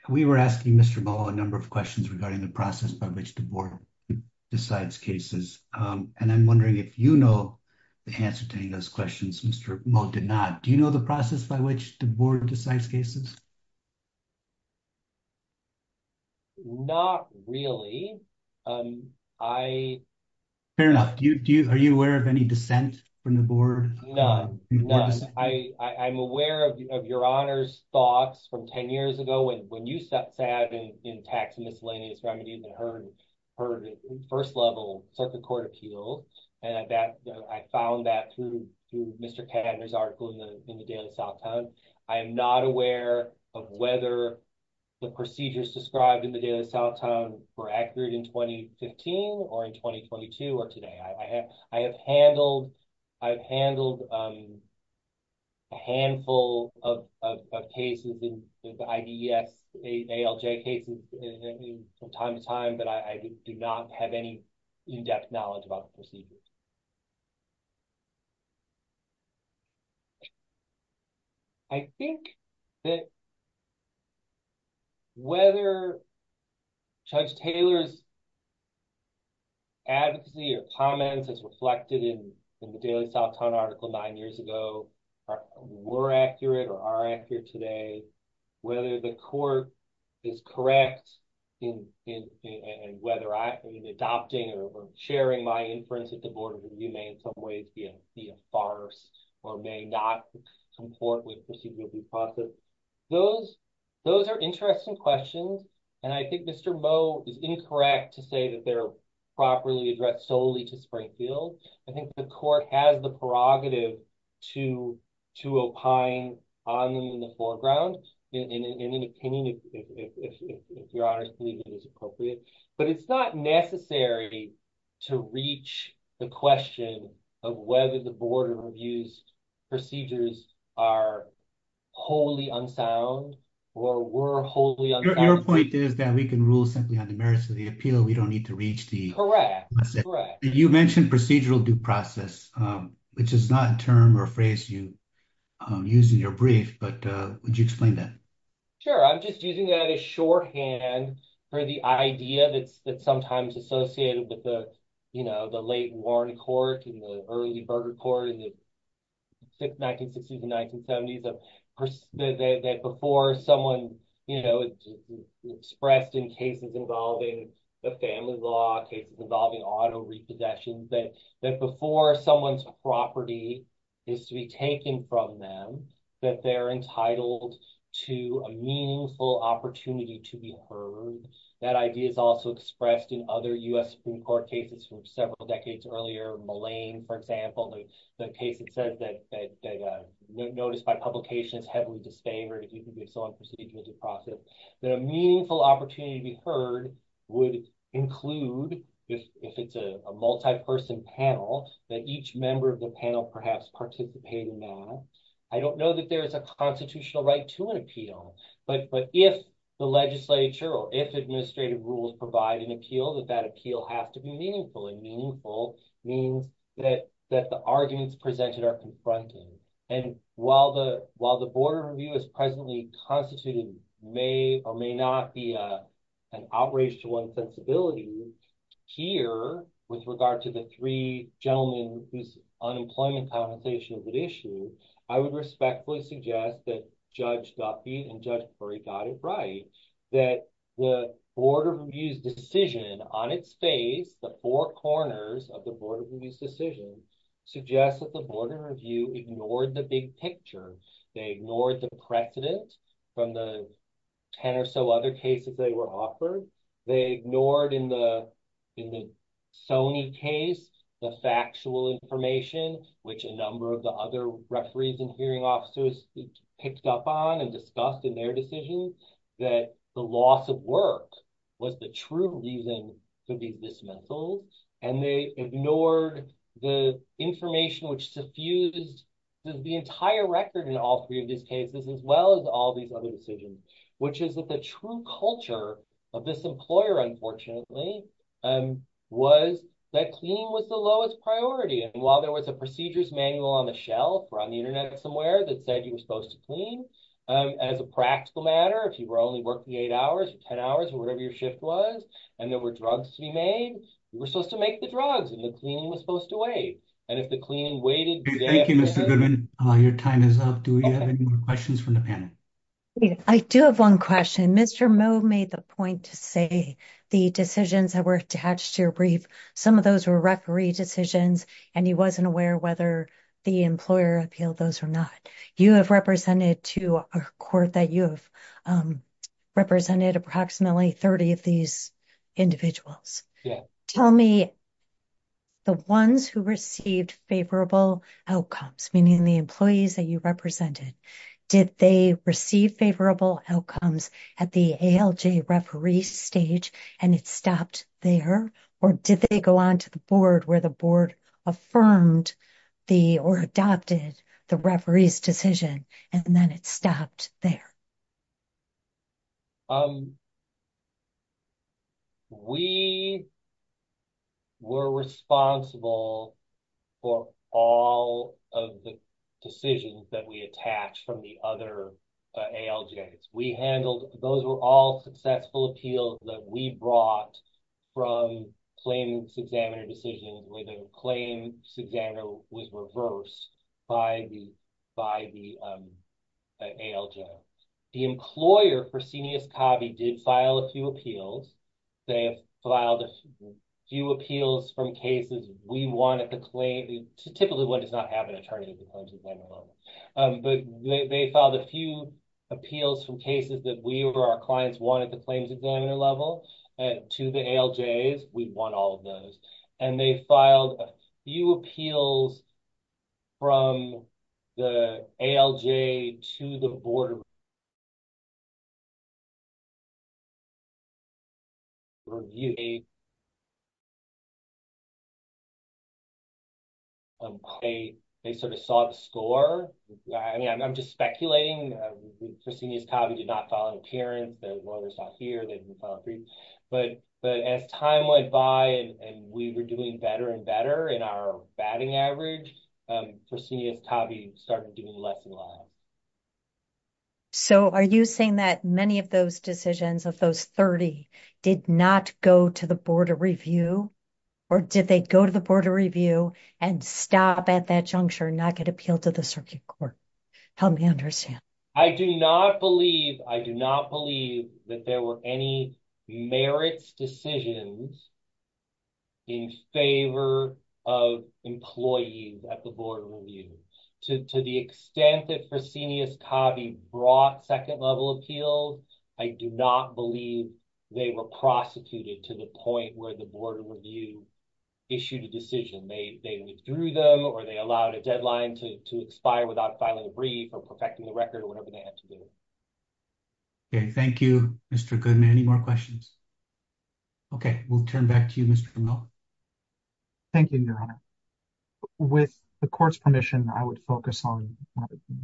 we were asking Mr. Mo a number of questions regarding the process by which the board decides cases. And I'm wondering if you know the answer to any of those questions, Mr. Mo did not. Do you know the process by which the board decides cases? Not really. Fair enough. Do you, are you aware of any dissent from the board? None, none. I, I'm aware of your honor's thoughts from 10 years ago. When you sat in tax and miscellaneous remedies and heard first level circuit court appeal. And that I found that through, through Mr. Cadner's article in the Daily South Town. I am not aware of whether the procedures described in the Daily South Town were accurate in 2015 or in 2022 or today. I have handled, I've handled a handful of cases with IDS ALJ cases from time to time, but I do not have any in-depth knowledge about the procedures. I think that whether Judge Taylor's advocacy or comments as reflected in the Daily South Town article nine years ago were accurate or are accurate today. Whether the court is correct in, in, in whether I, in adopting or sharing my inference at the Board of Review may in some ways be a, be a farce or may not support with procedural due process. Those, those are interesting questions. And I think Mr. Moe is incorrect to say that they're properly addressed solely to Springfield. I think the court has the prerogative to, to opine on them in the foreground in, in, in an opinion, if, if, if, if you're honest to leave it as appropriate. But it's not necessary to reach the question of whether the Board of Review's procedures are wholly unsound or were wholly unsound. Your point is that we can rule simply on the merits of the appeal. We don't need to reach the- Correct, correct. You mentioned procedural due process, which is not a term or phrase you use in your brief, but would you explain that? I'm just using that as shorthand for the idea that's, that's sometimes associated with the, you know, the late Warren court and the early Berger court in the 1960s and 1970s of, that before someone, you know, expressed in cases involving the family law, cases involving auto repossessions, that, that before someone's property is to be taken from them, that they're entitled to a meaningful opportunity to be heard. That idea is also expressed in other U.S. Supreme Court cases from several decades earlier, Mullane, for example, the case that says that, that notice by publication is heavily disfavored if you can be so unprocedural due process, that a meaningful opportunity to be heard would include, if it's a multi-person panel, that each member of the panel perhaps participate in that. I don't know that there is a constitutional right to an appeal, but if the legislature or if administrative rules provide an appeal, that that appeal has to be meaningful. And meaningful means that, that the arguments presented are confronted. And while the, while the board of review is presently constituted, may or may not be an outrage to one's sensibility here with regard to the three gentlemen whose unemployment compensation is at issue, I would respectfully suggest that Judge Duffy and Judge Murray got it right, that the board of review's decision on its face, the four corners of the board of review's decision, suggests that the board of review ignored the big picture. They ignored the precedent from the 10 or so other cases they were offered. They ignored in the, in the Sony case, the factual information, which a number of the other referees and hearing officers picked up on and discussed in their decisions, that the loss of work was the true reason to be dismantled. And they ignored the information which suffused the entire record in all three of these cases, as well as all these other decisions, which is that the true culture of this employer, unfortunately, was that cleaning was the lowest priority. And while there was a procedures manual on the shelf or on the internet somewhere that said you were supposed to clean, as a practical matter, if you were only working eight hours or 10 hours or whatever your shift was, and there were drugs to be made, you were supposed to make the drugs and the cleaning was supposed to wait. And if the cleaning waited- Thank you, Mr. Goodman. Your time is up. Do we have any more questions from the panel? I do have one question. Mr. Moe made the point to say the decisions that were attached to your brief, some of those were referee decisions. He wasn't aware whether the employer appealed those or not. You have represented to a court that you have represented approximately 30 of these individuals. Tell me the ones who received favorable outcomes, meaning the employees that you represented, did they receive favorable outcomes at the ALJ referee stage and it stopped there? Or did they go on to the board where the board affirmed or adopted the referee's decision and then it stopped there? We were responsible for all of the decisions that we attached from the other ALJs. We handled- Those were all successful appeals that we brought from claims examiner decision where the claims examiner was reversed by the ALJ. The employer, Fresenius Covey, did file a few appeals. They filed a few appeals from cases we wanted to claim. Typically, one does not have an attorney at the claims examiner level. But they filed a few appeals from cases that we or our clients wanted the claims examiner level to the ALJs. We'd want all of those. And they filed a few appeals from the ALJ to the board. They sort of saw the score. I mean, I'm just speculating. Fresenius Covey did not file an appearance. The lawyer's not here. They didn't file a brief. But as time went by and we were doing better and better in our batting average, Fresenius Covey started doing less and less. So are you saying that many of those decisions of those 30 did not go to the board of review or did they go to the board of review and stop at that juncture and not get appealed to the circuit court? Help me understand. I do not believe- I do not believe that there were any merits decisions in favor of employees at the board of review. To the extent that Fresenius Covey brought second level appeals, I do not believe they were prosecuted to the point where the board of review issued a decision. They withdrew them or they allowed a deadline to expire without filing a brief or perfecting the record or whatever they had to do. Okay, thank you, Mr. Goodman. Any more questions? Okay, we'll turn back to you, Mr. Milne. Thank you, Your Honor. With the court's permission, I would focus on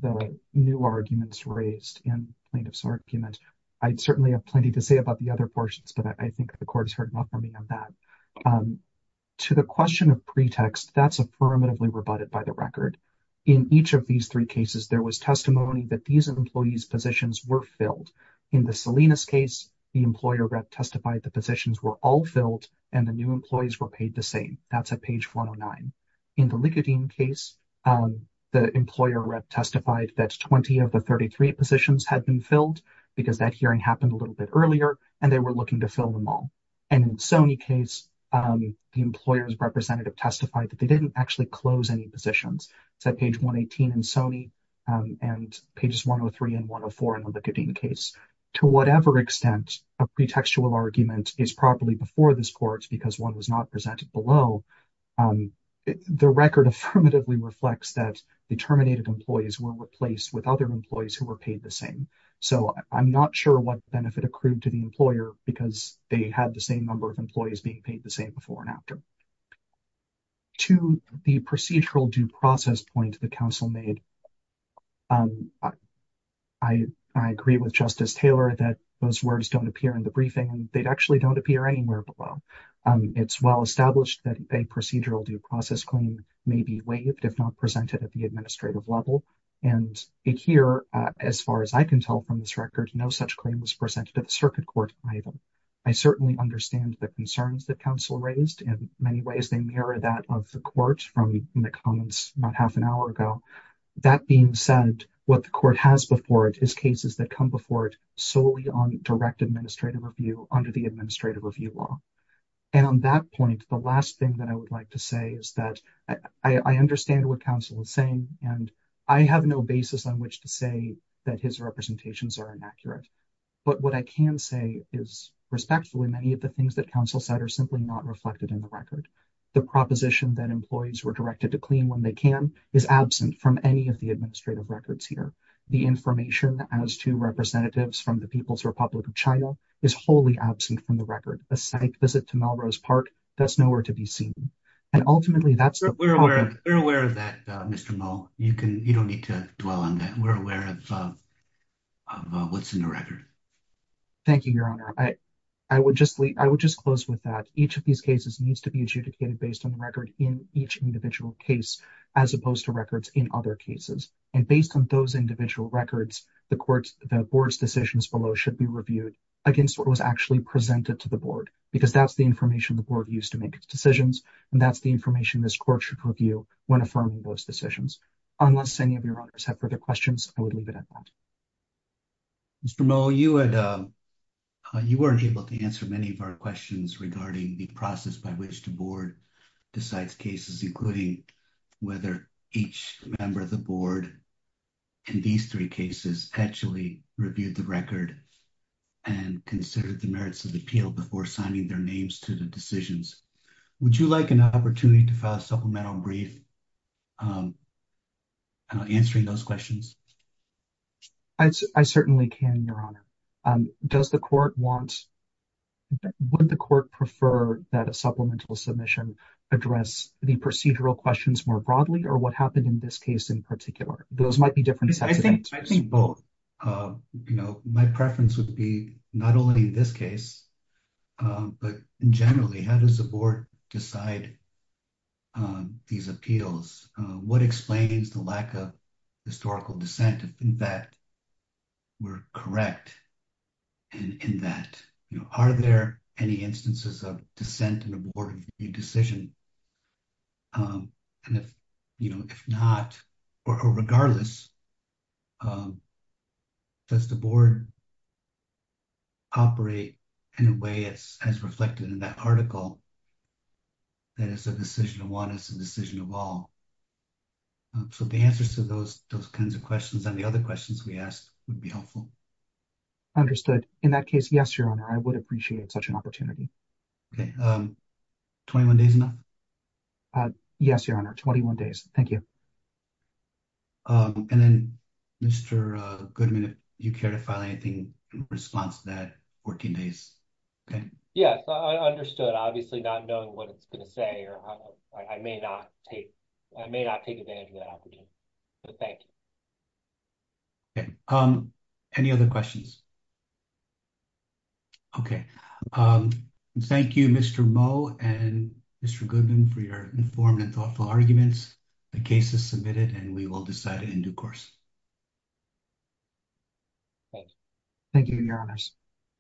the new arguments raised in plaintiff's argument. I'd certainly have plenty to say about the other portions, but I think the court has heard enough from me on that. To the question of pretext, that's affirmatively rebutted by the record. In each of these three cases, there was testimony that these employees' positions were filled. In the Salinas case, the employer rep testified the positions were all filled and the new employees were paid the same. That's at page 409. In the Likudin case, the employer rep testified that 20 of the 33 positions had been filled because that hearing happened a little bit earlier and they were looking to fill them all. And in Sony case, the employer's representative testified that they didn't actually close any positions. It's at page 118 in Sony and pages 103 and 104 in the Likudin case. To whatever extent a pretextual argument is properly before this court because one was not presented below, the record affirmatively reflects that the terminated employees were replaced with other employees who were paid the same. So I'm not sure what benefit accrued to the employer because they had the same number of employees being paid the same before and after. To the procedural due process point the council made, I agree with Justice Taylor that those words don't appear in the briefing and they actually don't appear anywhere below. It's well established that a procedural due process claim may be waived if not presented at the administrative level. And here, as far as I can tell from this record, no such claim was presented at the circuit court item. I certainly understand the concerns that council raised. In many ways, they mirror that of the court from the comments about half an hour ago. That being said, what the court has before it is cases that come before it solely on direct administrative review under the administrative review law. And on that point, the last thing that I would like to say is that I understand what council is saying and I have no basis on which to say that his representations are inaccurate. But what I can say is respectfully, many of the things that council said are simply not reflected in the record. The proposition that employees were directed to clean when they can is absent from any of the administrative records here. The information as to representatives from the People's Republic of China is wholly absent from the record. A psych visit to Melrose Park, that's nowhere to be seen. And ultimately, that's- We're aware of that, Mr. Mull. You don't need to dwell on that. We're aware of what's in the record. Thank you, Your Honor. I would just close with that. Each of these cases needs to be adjudicated based on the record in each individual case, as opposed to records in other cases. And based on those individual records, the court's- the board's decisions below should be reviewed against what was actually presented to the board, because that's the information the board used to make its decisions. And that's the information this court should review when affirming those decisions. Unless any of your honors have further questions, I would leave it at that. Mr. Mull, you had- You weren't able to answer many of our questions regarding the process by which the board decides cases, including whether each member of the board in these three cases actually reviewed the record and considered the merits of the appeal before signing their names to the decisions. Would you like an opportunity to file a supplemental brief answering those questions? I certainly can, Your Honor. Does the court want- Would the court prefer that a supplemental submission address the procedural questions more broadly, or what happened in this case in particular? Those might be different sets of answers. I think both. You know, my preference would be not only in this case, but generally, how does the board decide these appeals? What explains the lack of historical dissent, if in fact we're correct in that? You know, are there any instances of dissent in a board decision? And if not, or regardless, does the board operate in a way as reflected in that article that it's a decision of one, it's a decision of all? So the answers to those kinds of questions and the other questions we asked would be helpful. Understood. In that case, yes, Your Honor, I would appreciate such an opportunity. Okay. 21 days enough? Yes, Your Honor. 21 days. Thank you. And then, Mr. Goodman, if you care to file anything in response to that, 14 days, okay? Yes, I understood. Obviously not knowing what it's going to say, or I may not take advantage of that opportunity, but thank you. Okay. Any other questions? Okay. Um, thank you, Mr. Moe and Mr. Goodman for your informed and thoughtful arguments. The case is submitted and we will decide it in due course. Thanks. Thank you, Your Honors.